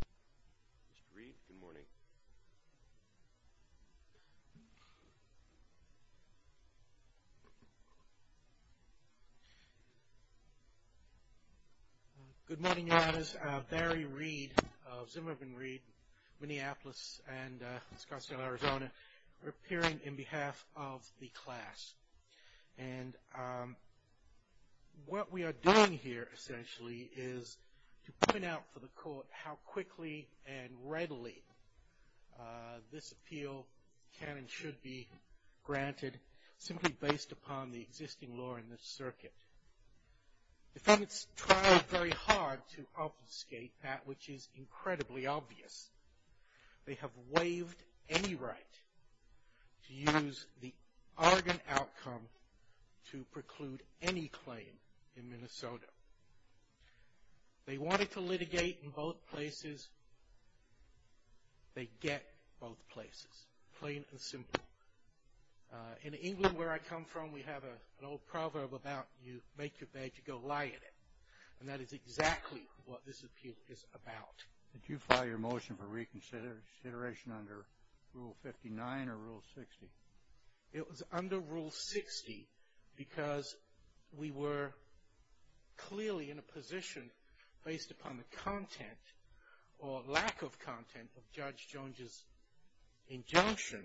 Mr. Reed, good morning. Good morning, Your Honors. Barry Reed of Zimmerman Reed, Minneapolis and Scottsdale, Arizona. We're appearing on behalf of the class. And what we are doing here essentially is to point out for the court how quickly and readily this appeal can and should be granted simply based upon the existing law in this circuit. Defendants tried very hard to obfuscate that which is incredibly obvious. They have waived any right to use the Argonne outcome to preclude any claim in Minnesota. They wanted to litigate in both places. They get both places, plain and simple. In England, where I come from, we have an old proverb about you make your bed, you go lie in it. And that is exactly what this appeal is about. Did you file your motion for reconsideration under Rule 59 or Rule 60? It was under Rule 60 because we were clearly in a position based upon the content or lack of content of Judge Jones's injunction.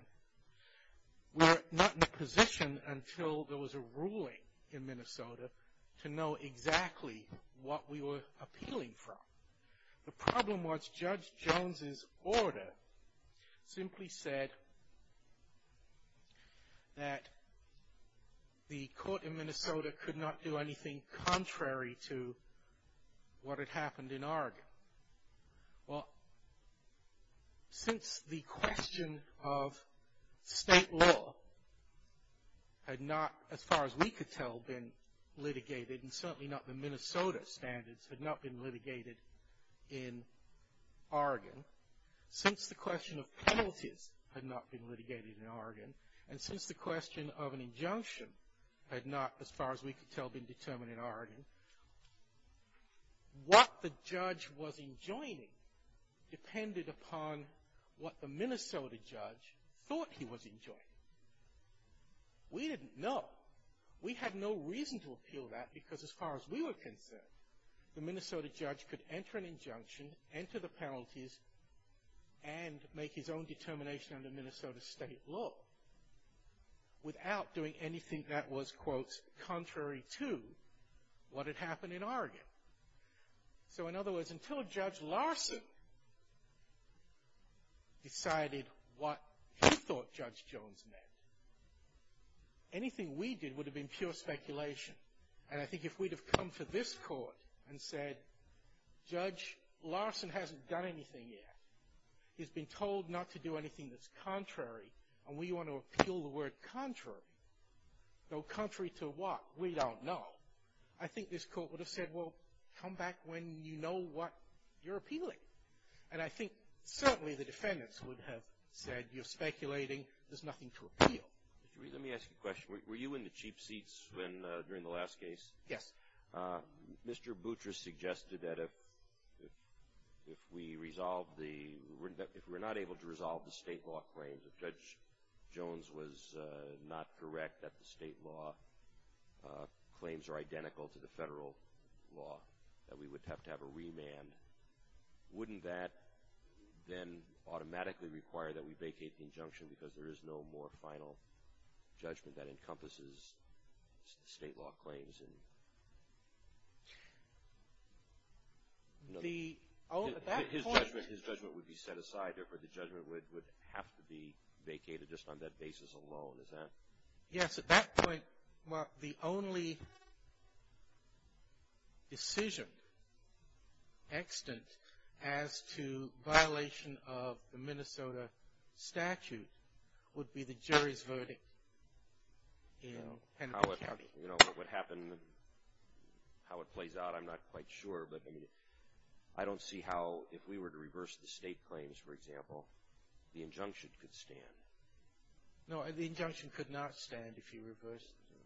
We're not in a position until there was a ruling in Minnesota to know exactly what we were appealing from. The problem was Judge Jones's order simply said that the court in Minnesota could not do anything contrary to what had happened in Argonne. Well, since the question of state law had not, as far as we could tell, been litigated, and certainly not the Minnesota standards had not been litigated in Argonne, since the question of penalties had not been litigated in Argonne, and since the question of an injunction had not, as far as we could tell, been determined in Argonne, what the judge was enjoining depended upon what the Minnesota judge thought he was enjoining. We didn't know. We had no reason to appeal that because, as far as we were concerned, the Minnesota judge could enter an injunction, enter the penalties, and make his own determination under Minnesota state law without doing anything that was, quote, contrary to what had happened in Argonne. So, in other words, until Judge Larson decided what he thought Judge Jones meant, anything we did would have been pure speculation. And I think if we'd have come to this court and said, Judge Larson hasn't done anything yet. He's been told not to do anything that's contrary, and we want to appeal the word contrary. So, contrary to what? We don't know. I think this court would have said, well, come back when you know what you're appealing. And I think certainly the defendants would have said, you're speculating. There's nothing to appeal. Let me ask you a question. Were you in the cheap seats during the last case? Yes. Mr. Boutrous suggested that if we resolve the ‑‑ if we're not able to resolve the state law claims, if Judge Jones was not correct that the state law claims are identical to the federal law, that we would have to have a remand. Wouldn't that then automatically require that we vacate the injunction because there is no more final judgment that encompasses state law claims? His judgment would be set aside. Therefore, the judgment would have to be vacated just on that basis alone, is that? Yes. At that point, Mark, the only decision extant as to violation of the Minnesota statute would be the jury's verdict in Kennedy County. You know, what happened, how it plays out, I'm not quite sure, but I don't see how if we were to reverse the state claims, for example, the injunction could stand. No, the injunction could not stand if you reversed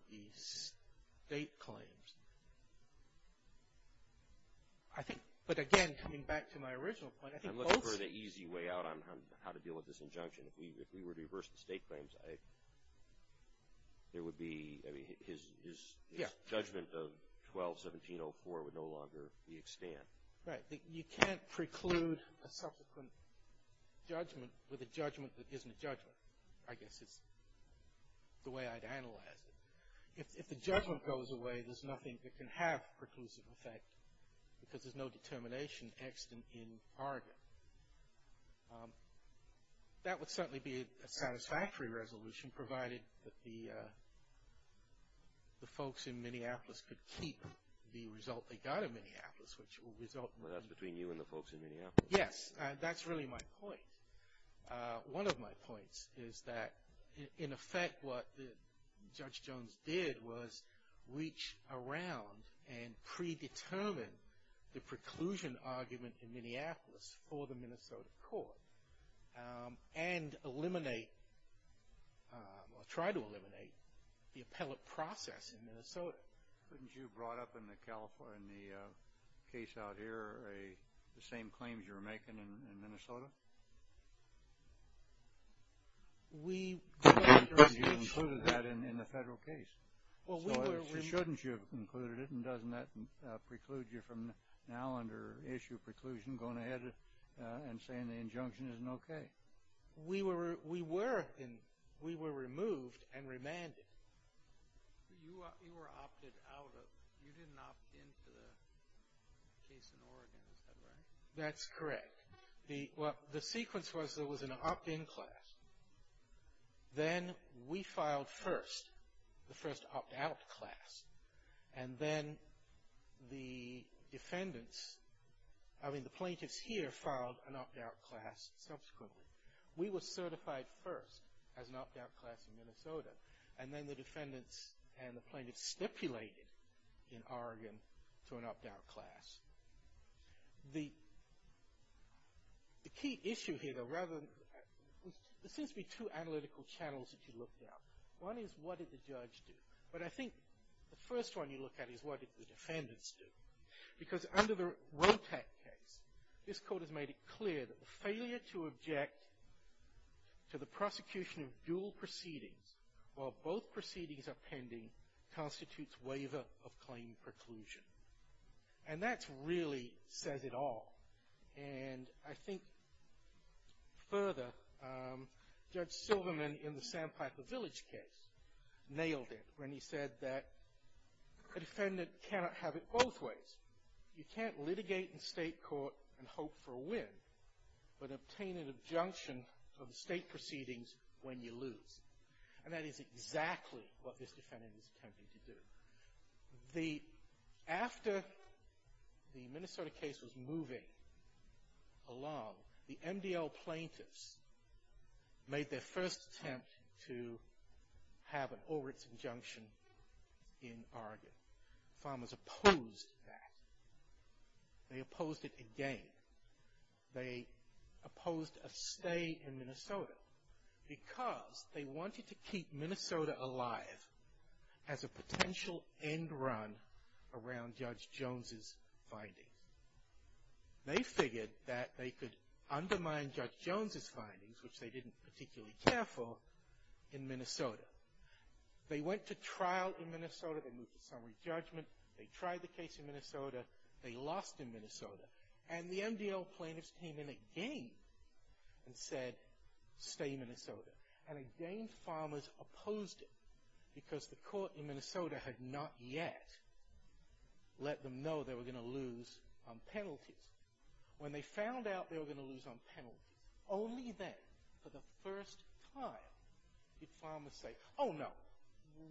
the state claims. I think, but again, coming back to my original point, I think both ‑‑ I'm looking for the easy way out on how to deal with this injunction. If we were to reverse the state claims, there would be, I mean, his judgment of 121704 would no longer be extant. Right. You can't preclude a subsequent judgment with a judgment that isn't a judgment. I guess it's the way I'd analyze it. If the judgment goes away, there's nothing that can have preclusive effect because there's no determination extant in Oregon. That would certainly be a satisfactory resolution, provided that the folks in Minneapolis could keep the result they got in Minneapolis, which will result in ‑‑ Well, that's between you and the folks in Minneapolis. Yes, that's really my point. One of my points is that, in effect, what Judge Jones did was reach around and predetermine the preclusion argument in Minneapolis for the Minnesota court and eliminate or try to eliminate the appellate process in Minnesota. Couldn't you have brought up in the case out here the same claims you were making in Minnesota? You concluded that in the federal case. So shouldn't you have concluded it, and doesn't that preclude you from now under issue of preclusion going ahead and saying the injunction isn't okay? We were removed and remanded. You were opted out of. You didn't opt in to the case in Oregon. Is that right? That's correct. The sequence was there was an opt‑in class. Then we filed first, the first opt‑out class. And then the defendants, I mean the plaintiffs here, filed an opt‑out class subsequently. We were certified first as an opt‑out class in Minnesota. And then the defendants and the plaintiffs stipulated in Oregon to an opt‑out class. The key issue here, there seems to be two analytical channels that you looked at. One is what did the judge do? But I think the first one you look at is what did the defendants do? Because under the WOTAC case, this court has made it clear that the failure to object to the prosecution of dual proceedings while both proceedings are pending constitutes waiver of claim preclusion. And that really says it all. And I think further, Judge Silverman in the Sandpiper Village case nailed it when he said that a defendant cannot have it both ways. You can't litigate in state court and hope for a win, but obtain an injunction of the state proceedings when you lose. And that is exactly what this defendant is attempting to do. After the Minnesota case was moving along, the MDL plaintiffs made their first attempt to have an overt injunction in Oregon. Farmers opposed that. They opposed it again. They opposed a stay in Minnesota because they wanted to keep Minnesota alive as a potential end run around Judge Jones' findings. They figured that they could undermine Judge Jones' findings, which they didn't particularly care for, in Minnesota. They went to trial in Minnesota. They moved to summary judgment. They tried the case in Minnesota. They lost in Minnesota. And the MDL plaintiffs came in again and said, stay in Minnesota. And again, farmers opposed it because the court in Minnesota had not yet let them know they were going to lose on penalties. When they found out they were going to lose on penalties, only then, for the first time, did farmers say, oh, no,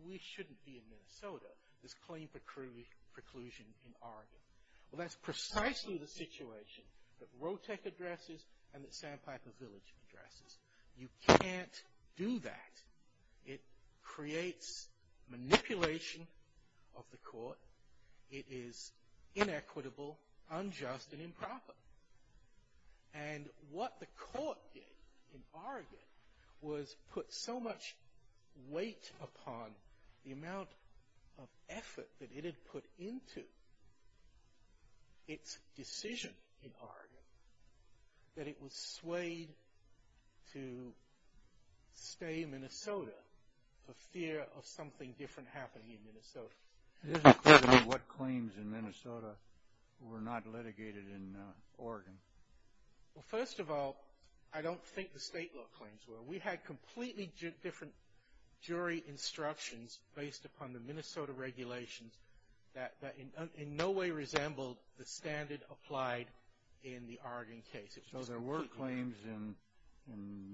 we shouldn't be in Minnesota, this claim preclusion in Oregon. Well, that's precisely the situation that Rotech addresses and that Sandpiper Village addresses. You can't do that. It creates manipulation of the court. It is inequitable, unjust, and improper. And what the court did in Oregon was put so much weight upon the amount of effort that it had put into its decision in Oregon that it was swayed to stay in Minnesota for fear of something different happening in Minnesota. It is a question of what claims in Minnesota were not litigated in Oregon. Well, first of all, I don't think the state law claims were. We had completely different jury instructions based upon the Minnesota regulations that in no way resembled the standard applied in the Oregon case. So there were claims in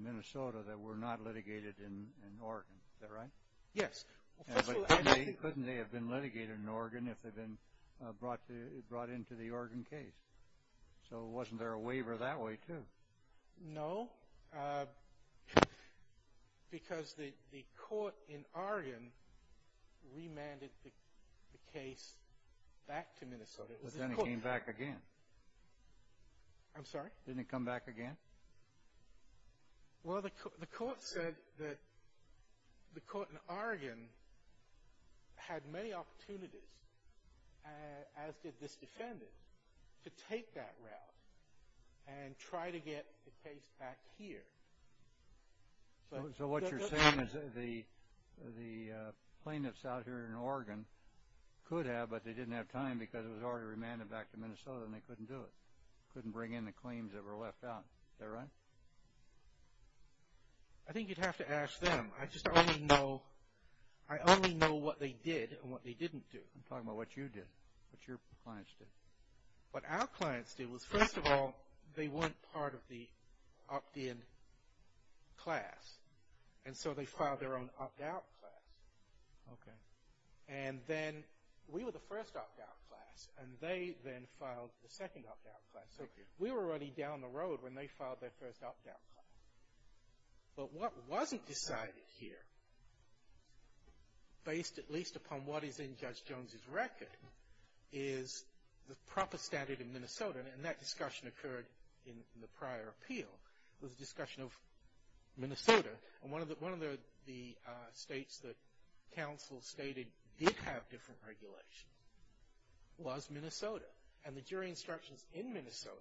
Minnesota that were not litigated in Oregon. Is that right? Yes. Couldn't they have been litigated in Oregon if they'd been brought into the Oregon case? So wasn't there a waiver that way, too? No, because the court in Oregon remanded the case back to Minnesota. But then it came back again. I'm sorry? Didn't it come back again? Well, the court said that the court in Oregon had many opportunities, as did this defendant, to take that route and try to get the case back here. So what you're saying is the plaintiffs out here in Oregon could have, but they didn't have time because it was already remanded back to Minnesota and they couldn't do it, couldn't bring in the claims that were left out. Is that right? I think you'd have to ask them. I just only know what they did and what they didn't do. I'm talking about what you did, what your clients did. What our clients did was, first of all, they weren't part of the opt-in class, and so they filed their own opt-out class. Okay. And then we were the first opt-out class, and they then filed the second opt-out class. So we were already down the road when they filed their first opt-out class. But what wasn't decided here, based at least upon what is in Judge Jones's record, is the proper standard in Minnesota, and that discussion occurred in the prior appeal. It was a discussion of Minnesota. And one of the states that counsel stated did have different regulations was Minnesota, and the jury instructions in Minnesota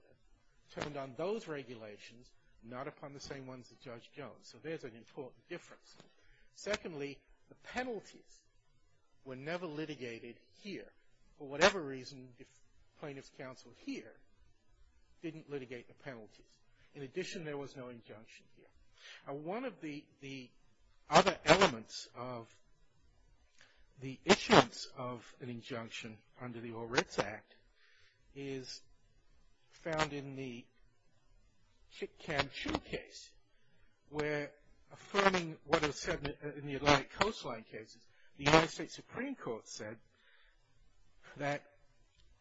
turned on those regulations, not upon the same ones that Judge Jones. So there's an important difference. Secondly, the penalties were never litigated here, for whatever reason plaintiff's counsel here didn't litigate the penalties. In addition, there was no injunction here. Now, one of the other elements of the issuance of an injunction under the ORITS Act is found in the Kit Kam Choo case, where affirming what is said in the Atlantic coastline cases, the United States Supreme Court said that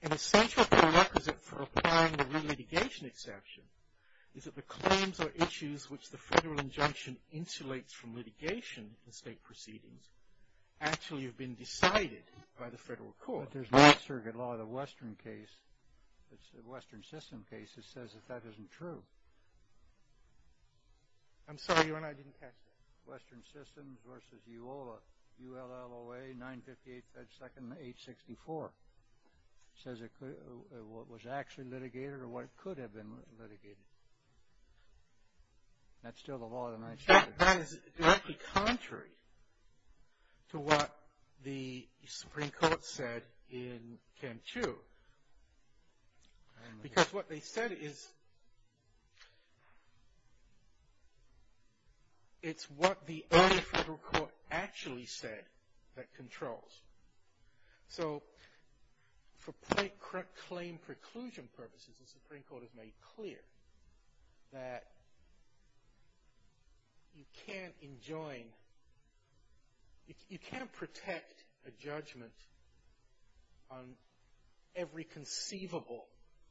an essential prerequisite for applying the re-litigation exception is that the claims or issues which the federal injunction insulates from litigation in state proceedings actually have been decided by the federal court. But there's no circuit law in the Western System case that says that that isn't true. I'm sorry, Your Honor, I didn't catch that. Western Systems v. ULLOA 958-2-864. It says it was actually litigated or what could have been litigated. That's still the law of the United States. That is directly contrary to what the Supreme Court said in Kam Choo. Because what they said is it's what the early federal court actually said that controls. So for plain claim preclusion purposes, the Supreme Court has made clear that you can't enjoin, you can't protect a judgment on every conceivable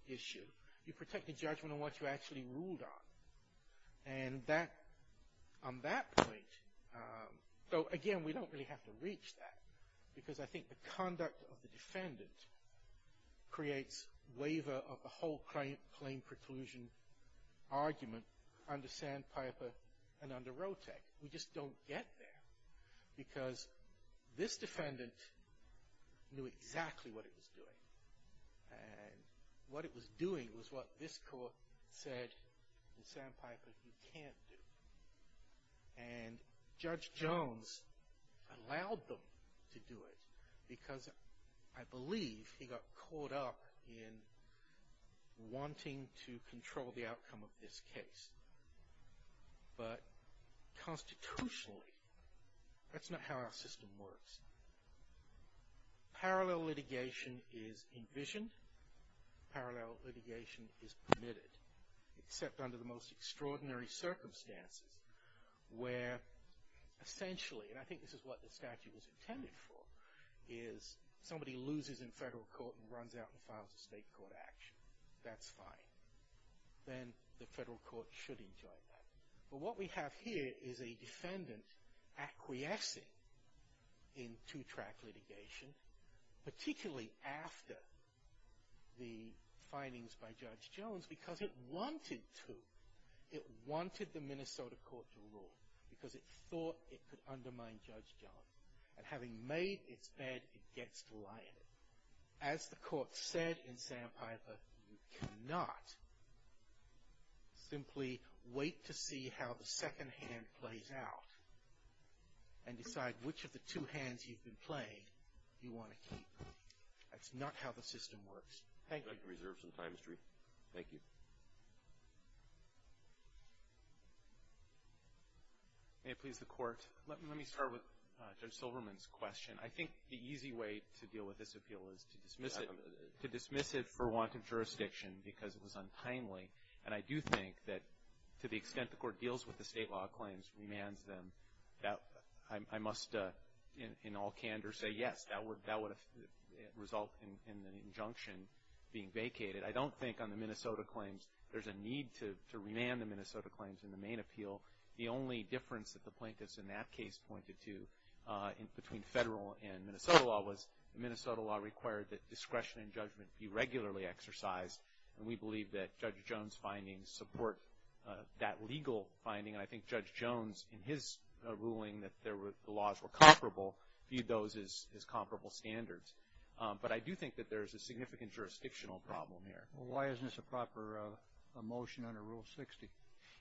issue. You protect a judgment on what you actually ruled on. And on that point, though, again, we don't really have to reach that because I think the conduct of the defendant creates waiver of the whole claim preclusion argument under Sandpiper and under Rotec. We just don't get there because this defendant knew exactly what it was doing. And what it was doing was what this court said in Sandpiper you can't do. And Judge Jones allowed them to do it because I believe he got caught up in wanting to control the outcome of this case. But constitutionally, that's not how our system works. Parallel litigation is envisioned. Parallel litigation is permitted, except under the most extraordinary circumstances where essentially, and I think this is what the statute was intended for, is somebody loses in federal court and runs out and files a state court action. That's fine. Then the federal court should enjoin that. But what we have here is a defendant acquiescing in two-track litigation, particularly after the findings by Judge Jones because it wanted to. It wanted the Minnesota court to rule because it thought it could undermine Judge Jones. And having made its bed, it gets to lie in it. As the court said in Sandpiper, you cannot simply wait to see how the second hand plays out and decide which of the two hands you've been playing you want to keep. That's not how the system works. Thank you. I'd like to reserve some time, Mr. Reed. Thank you. May it please the Court. Let me start with Judge Silverman's question. I think the easy way to deal with this appeal is to dismiss it for want of jurisdiction because it was untimely. And I do think that to the extent the Court deals with the state law claims, remands them, I must in all candor say yes, that would result in the injunction being vacated. I don't think on the Minnesota claims there's a need to remand the Minnesota claims in the main appeal. The only difference that the plaintiffs in that case pointed to between federal and Minnesota law was the Minnesota law required that discretion and judgment be regularly exercised. And we believe that Judge Jones' findings support that legal finding. I think Judge Jones, in his ruling, that the laws were comparable, viewed those as comparable standards. But I do think that there's a significant jurisdictional problem here. Well, why isn't this a proper motion under Rule 60?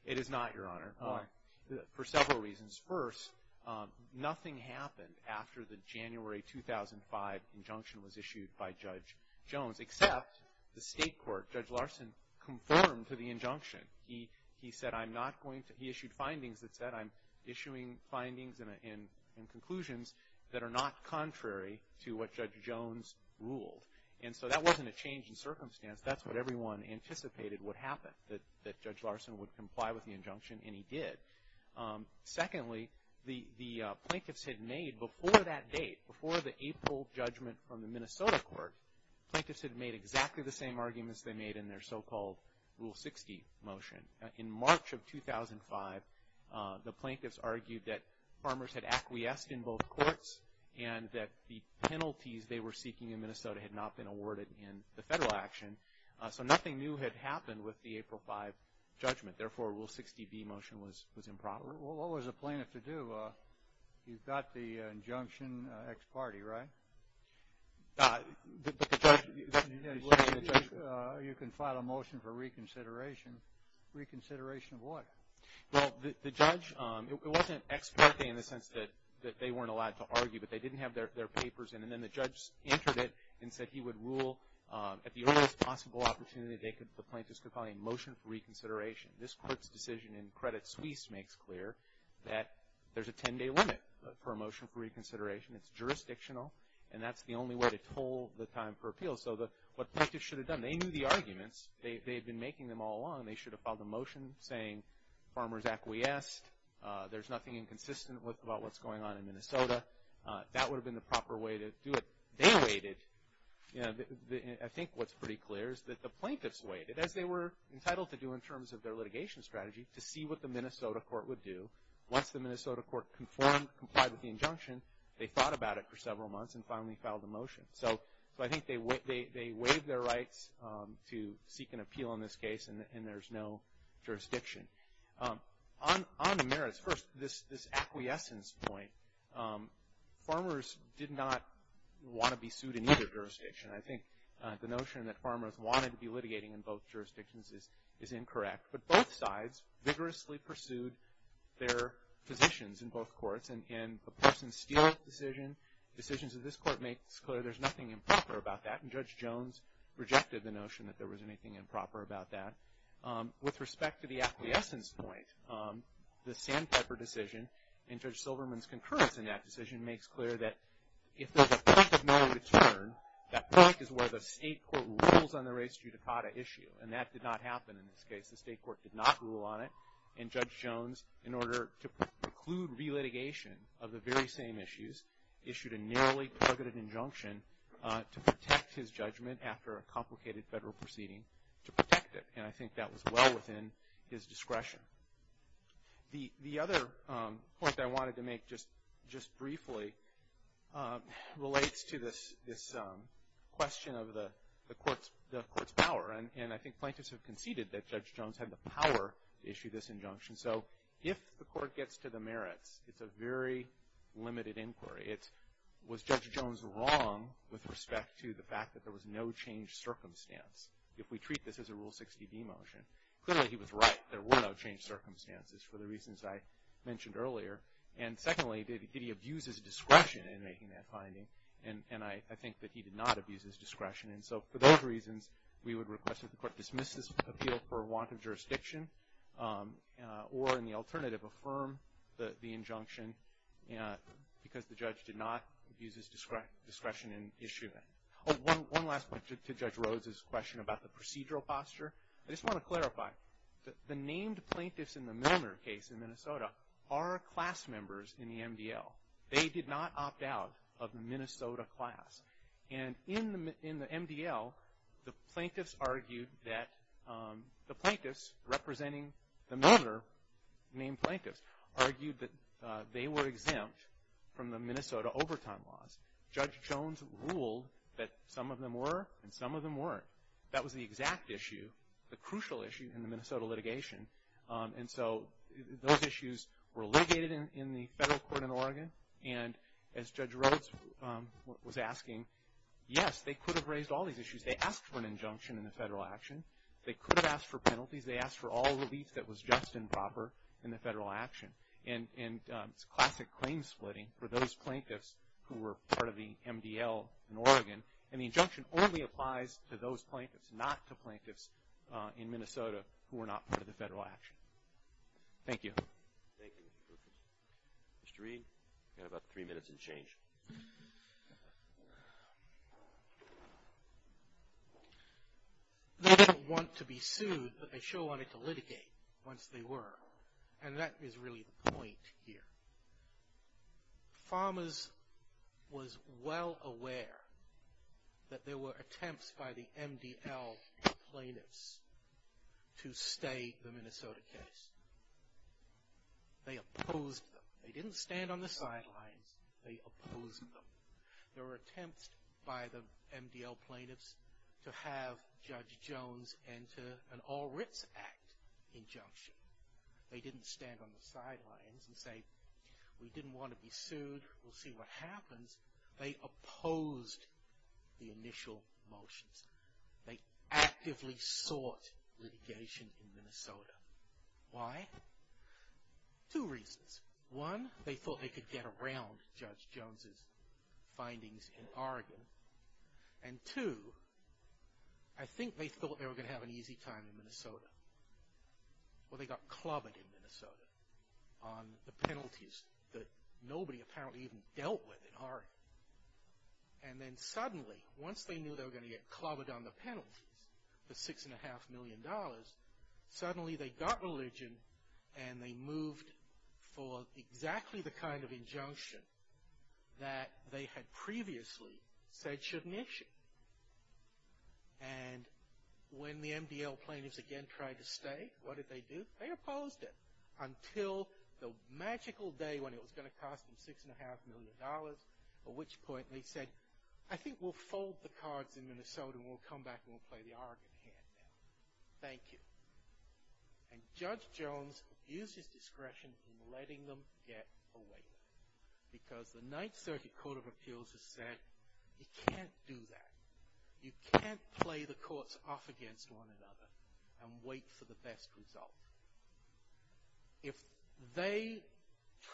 It is not, Your Honor. Why? For several reasons. First, nothing happened after the January 2005 injunction was issued by Judge Jones, except the State court, Judge Larson, conformed to the injunction. He said, I'm not going to he issued findings that said I'm issuing findings and conclusions that are not contrary to what Judge Jones ruled. And so that wasn't a change in circumstance. That's what everyone anticipated would happen, that Judge Larson would comply with the injunction, and he did. Secondly, the plaintiffs had made, before that date, before the April judgment from the Minnesota court, the plaintiffs had made exactly the same arguments they made in their so-called Rule 60 motion. In March of 2005, the plaintiffs argued that farmers had acquiesced in both courts and that the penalties they were seeking in Minnesota had not been awarded in the federal action. So nothing new had happened with the April 5 judgment. Therefore, Rule 60b motion was improper. Well, what was the plaintiff to do? He got the injunction ex parte, right? But the judge. You can file a motion for reconsideration. Reconsideration of what? Well, the judge, it wasn't ex parte in the sense that they weren't allowed to argue, but they didn't have their papers in, and then the judge entered it and said he would rule at the earliest possible opportunity the plaintiffs could file a motion for reconsideration. This court's decision in Credit Suisse makes clear that there's a 10-day limit for a motion for reconsideration. It's jurisdictional, and that's the only way to toll the time for appeal. So what the plaintiffs should have done, they knew the arguments. They had been making them all along. They should have filed a motion saying farmers acquiesced. There's nothing inconsistent about what's going on in Minnesota. That would have been the proper way to do it. They waited. I think what's pretty clear is that the plaintiffs waited, as they were entitled to do in terms of their litigation strategy, to see what the Minnesota court would do. Once the Minnesota court conformed, complied with the injunction, they thought about it for several months and finally filed a motion. So I think they waived their rights to seek an appeal in this case, and there's no jurisdiction. On the merits, first, this acquiescence point, farmers did not want to be sued in either jurisdiction. I think the notion that farmers wanted to be litigating in both jurisdictions is incorrect. But both sides vigorously pursued their positions in both courts. In the Parsons-Steele decision, decisions of this court makes clear there's nothing improper about that, and Judge Jones rejected the notion that there was anything improper about that. With respect to the acquiescence point, the Sandpiper decision and Judge Silverman's concurrence in that decision makes clear that if there's a point of no return, that point is where the state court rules on the race judicata issue. And that did not happen in this case. The state court did not rule on it. And Judge Jones, in order to preclude relitigation of the very same issues, issued a nearly targeted injunction to protect his judgment after a complicated federal proceeding, to protect it. And I think that was well within his discretion. The other point I wanted to make just briefly relates to this question of the court's power. And I think plaintiffs have conceded that Judge Jones had the power to issue this injunction. So if the court gets to the merits, it's a very limited inquiry. Was Judge Jones wrong with respect to the fact that there was no changed circumstance if we treat this as a Rule 60d motion? Clearly, he was right. There were no changed circumstances for the reasons I mentioned earlier. And secondly, did he abuse his discretion in making that finding? And I think that he did not abuse his discretion. And so for those reasons, we would request that the court dismiss this appeal for want of jurisdiction or, in the alternative, affirm the injunction because the judge did not abuse his discretion in issuing it. Oh, one last point to Judge Rhodes' question about the procedural posture. I just want to clarify. The named plaintiffs in the Manner case in Minnesota are class members in the MDL. They did not opt out of the Minnesota class. And in the MDL, the plaintiffs argued that the plaintiffs, representing the manner named plaintiffs, argued that they were exempt from the Minnesota overtime laws. Judge Jones ruled that some of them were and some of them weren't. That was the exact issue, the crucial issue, in the Minnesota litigation. And so those issues were litigated in the federal court in Oregon. And as Judge Rhodes was asking, yes, they could have raised all these issues. They asked for an injunction in the federal action. They could have asked for penalties. They asked for all relief that was just and proper in the federal action. And it's classic claim splitting for those plaintiffs who were part of the MDL in Oregon. And the injunction only applies to those plaintiffs, not to plaintiffs in Minnesota, who were not part of the federal action. Thank you. Thank you. Mr. Reed, you have about three minutes and change. I don't want to be sued, but I sure wanted to litigate once they were. And that is really the point here. Farmers was well aware that there were attempts by the MDL plaintiffs to stay the Minnesota case. They opposed them. They didn't stand on the sidelines. They opposed them. There were attempts by the MDL plaintiffs to have Judge Jones enter an All Writs Act injunction. They didn't stand on the sidelines and say, we didn't want to be sued. We'll see what happens. They opposed the initial motions. They actively sought litigation in Minnesota. Why? Two reasons. One, they thought they could get around Judge Jones' findings in Oregon. And two, I think they thought they were going to have an easy time in Minnesota. Well, they got clobbered in Minnesota on the penalties that nobody apparently even dealt with in Oregon. And then suddenly, once they knew they were going to get clobbered on the penalties, the $6.5 million, suddenly they got religion and they moved for exactly the kind of injunction that they had previously said shouldn't issue. And when the MDL plaintiffs again tried to stay, what did they do? They opposed it until the magical day when it was going to cost them $6.5 million, at which point they said, I think we'll fold the cards in Minnesota and we'll come back and we'll play the Oregon hand now. Thank you. And Judge Jones used his discretion in letting them get away with it because the Ninth Circuit Court of Appeals has said you can't do that. You can't play the courts off against one another and wait for the best result. If they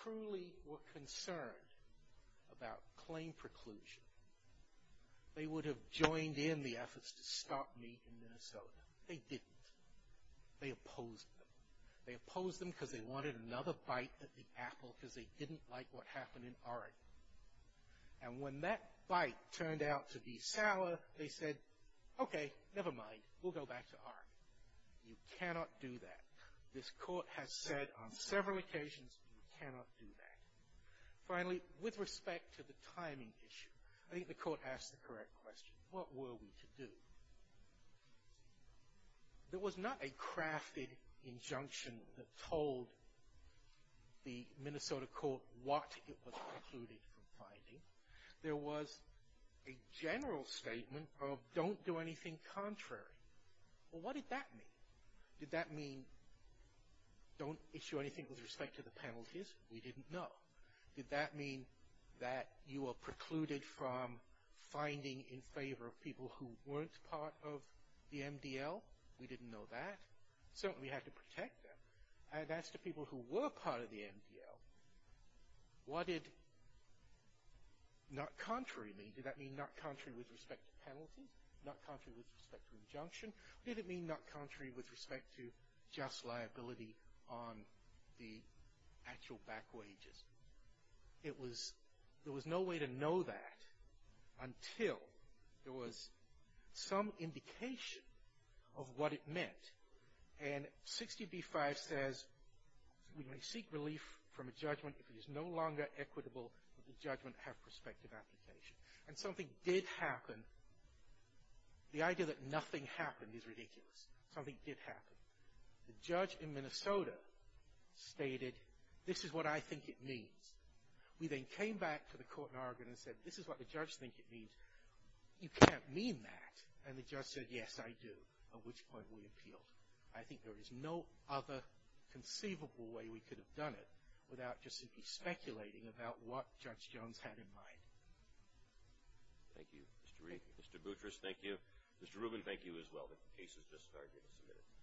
truly were concerned about claim preclusion, they would have joined in the efforts to stop me in Minnesota. They didn't. They opposed them. They opposed them because they wanted another bite at the apple because they didn't like what happened in Oregon. And when that bite turned out to be sour, they said, okay, never mind, we'll go back to Oregon. You cannot do that. This court has said on several occasions you cannot do that. Finally, with respect to the timing issue, I think the court asked the correct question. What were we to do? There was not a crafted injunction that told the Minnesota court what it was precluded from finding. There was a general statement of don't do anything contrary. Well, what did that mean? Did that mean don't issue anything with respect to the penalties? We didn't know. Did that mean that you were precluded from finding in favor of people who weren't part of the MDL? We didn't know that. Certainly we had to protect them. And as to people who were part of the MDL, what did not contrary mean? Did that mean not contrary with respect to penalties? Not contrary with respect to injunction? Or did it mean not contrary with respect to just liability on the actual back wages? There was no way to know that until there was some indication of what it meant. And 60b-5 says we may seek relief from a judgment if it is no longer equitable but the judgment have prospective application. And something did happen. The idea that nothing happened is ridiculous. Something did happen. The judge in Minnesota stated this is what I think it means. We then came back to the court in Oregon and said this is what the judge thinks it means. You can't mean that. And the judge said yes, I do, at which point we appealed. I think there is no other conceivable way we could have done it without just speculating about what Judge Jones had in mind. Thank you. Mr. Boutrous, thank you. Mr. Rubin, thank you as well. The case is just started. Thank you. Thank you. Thank you.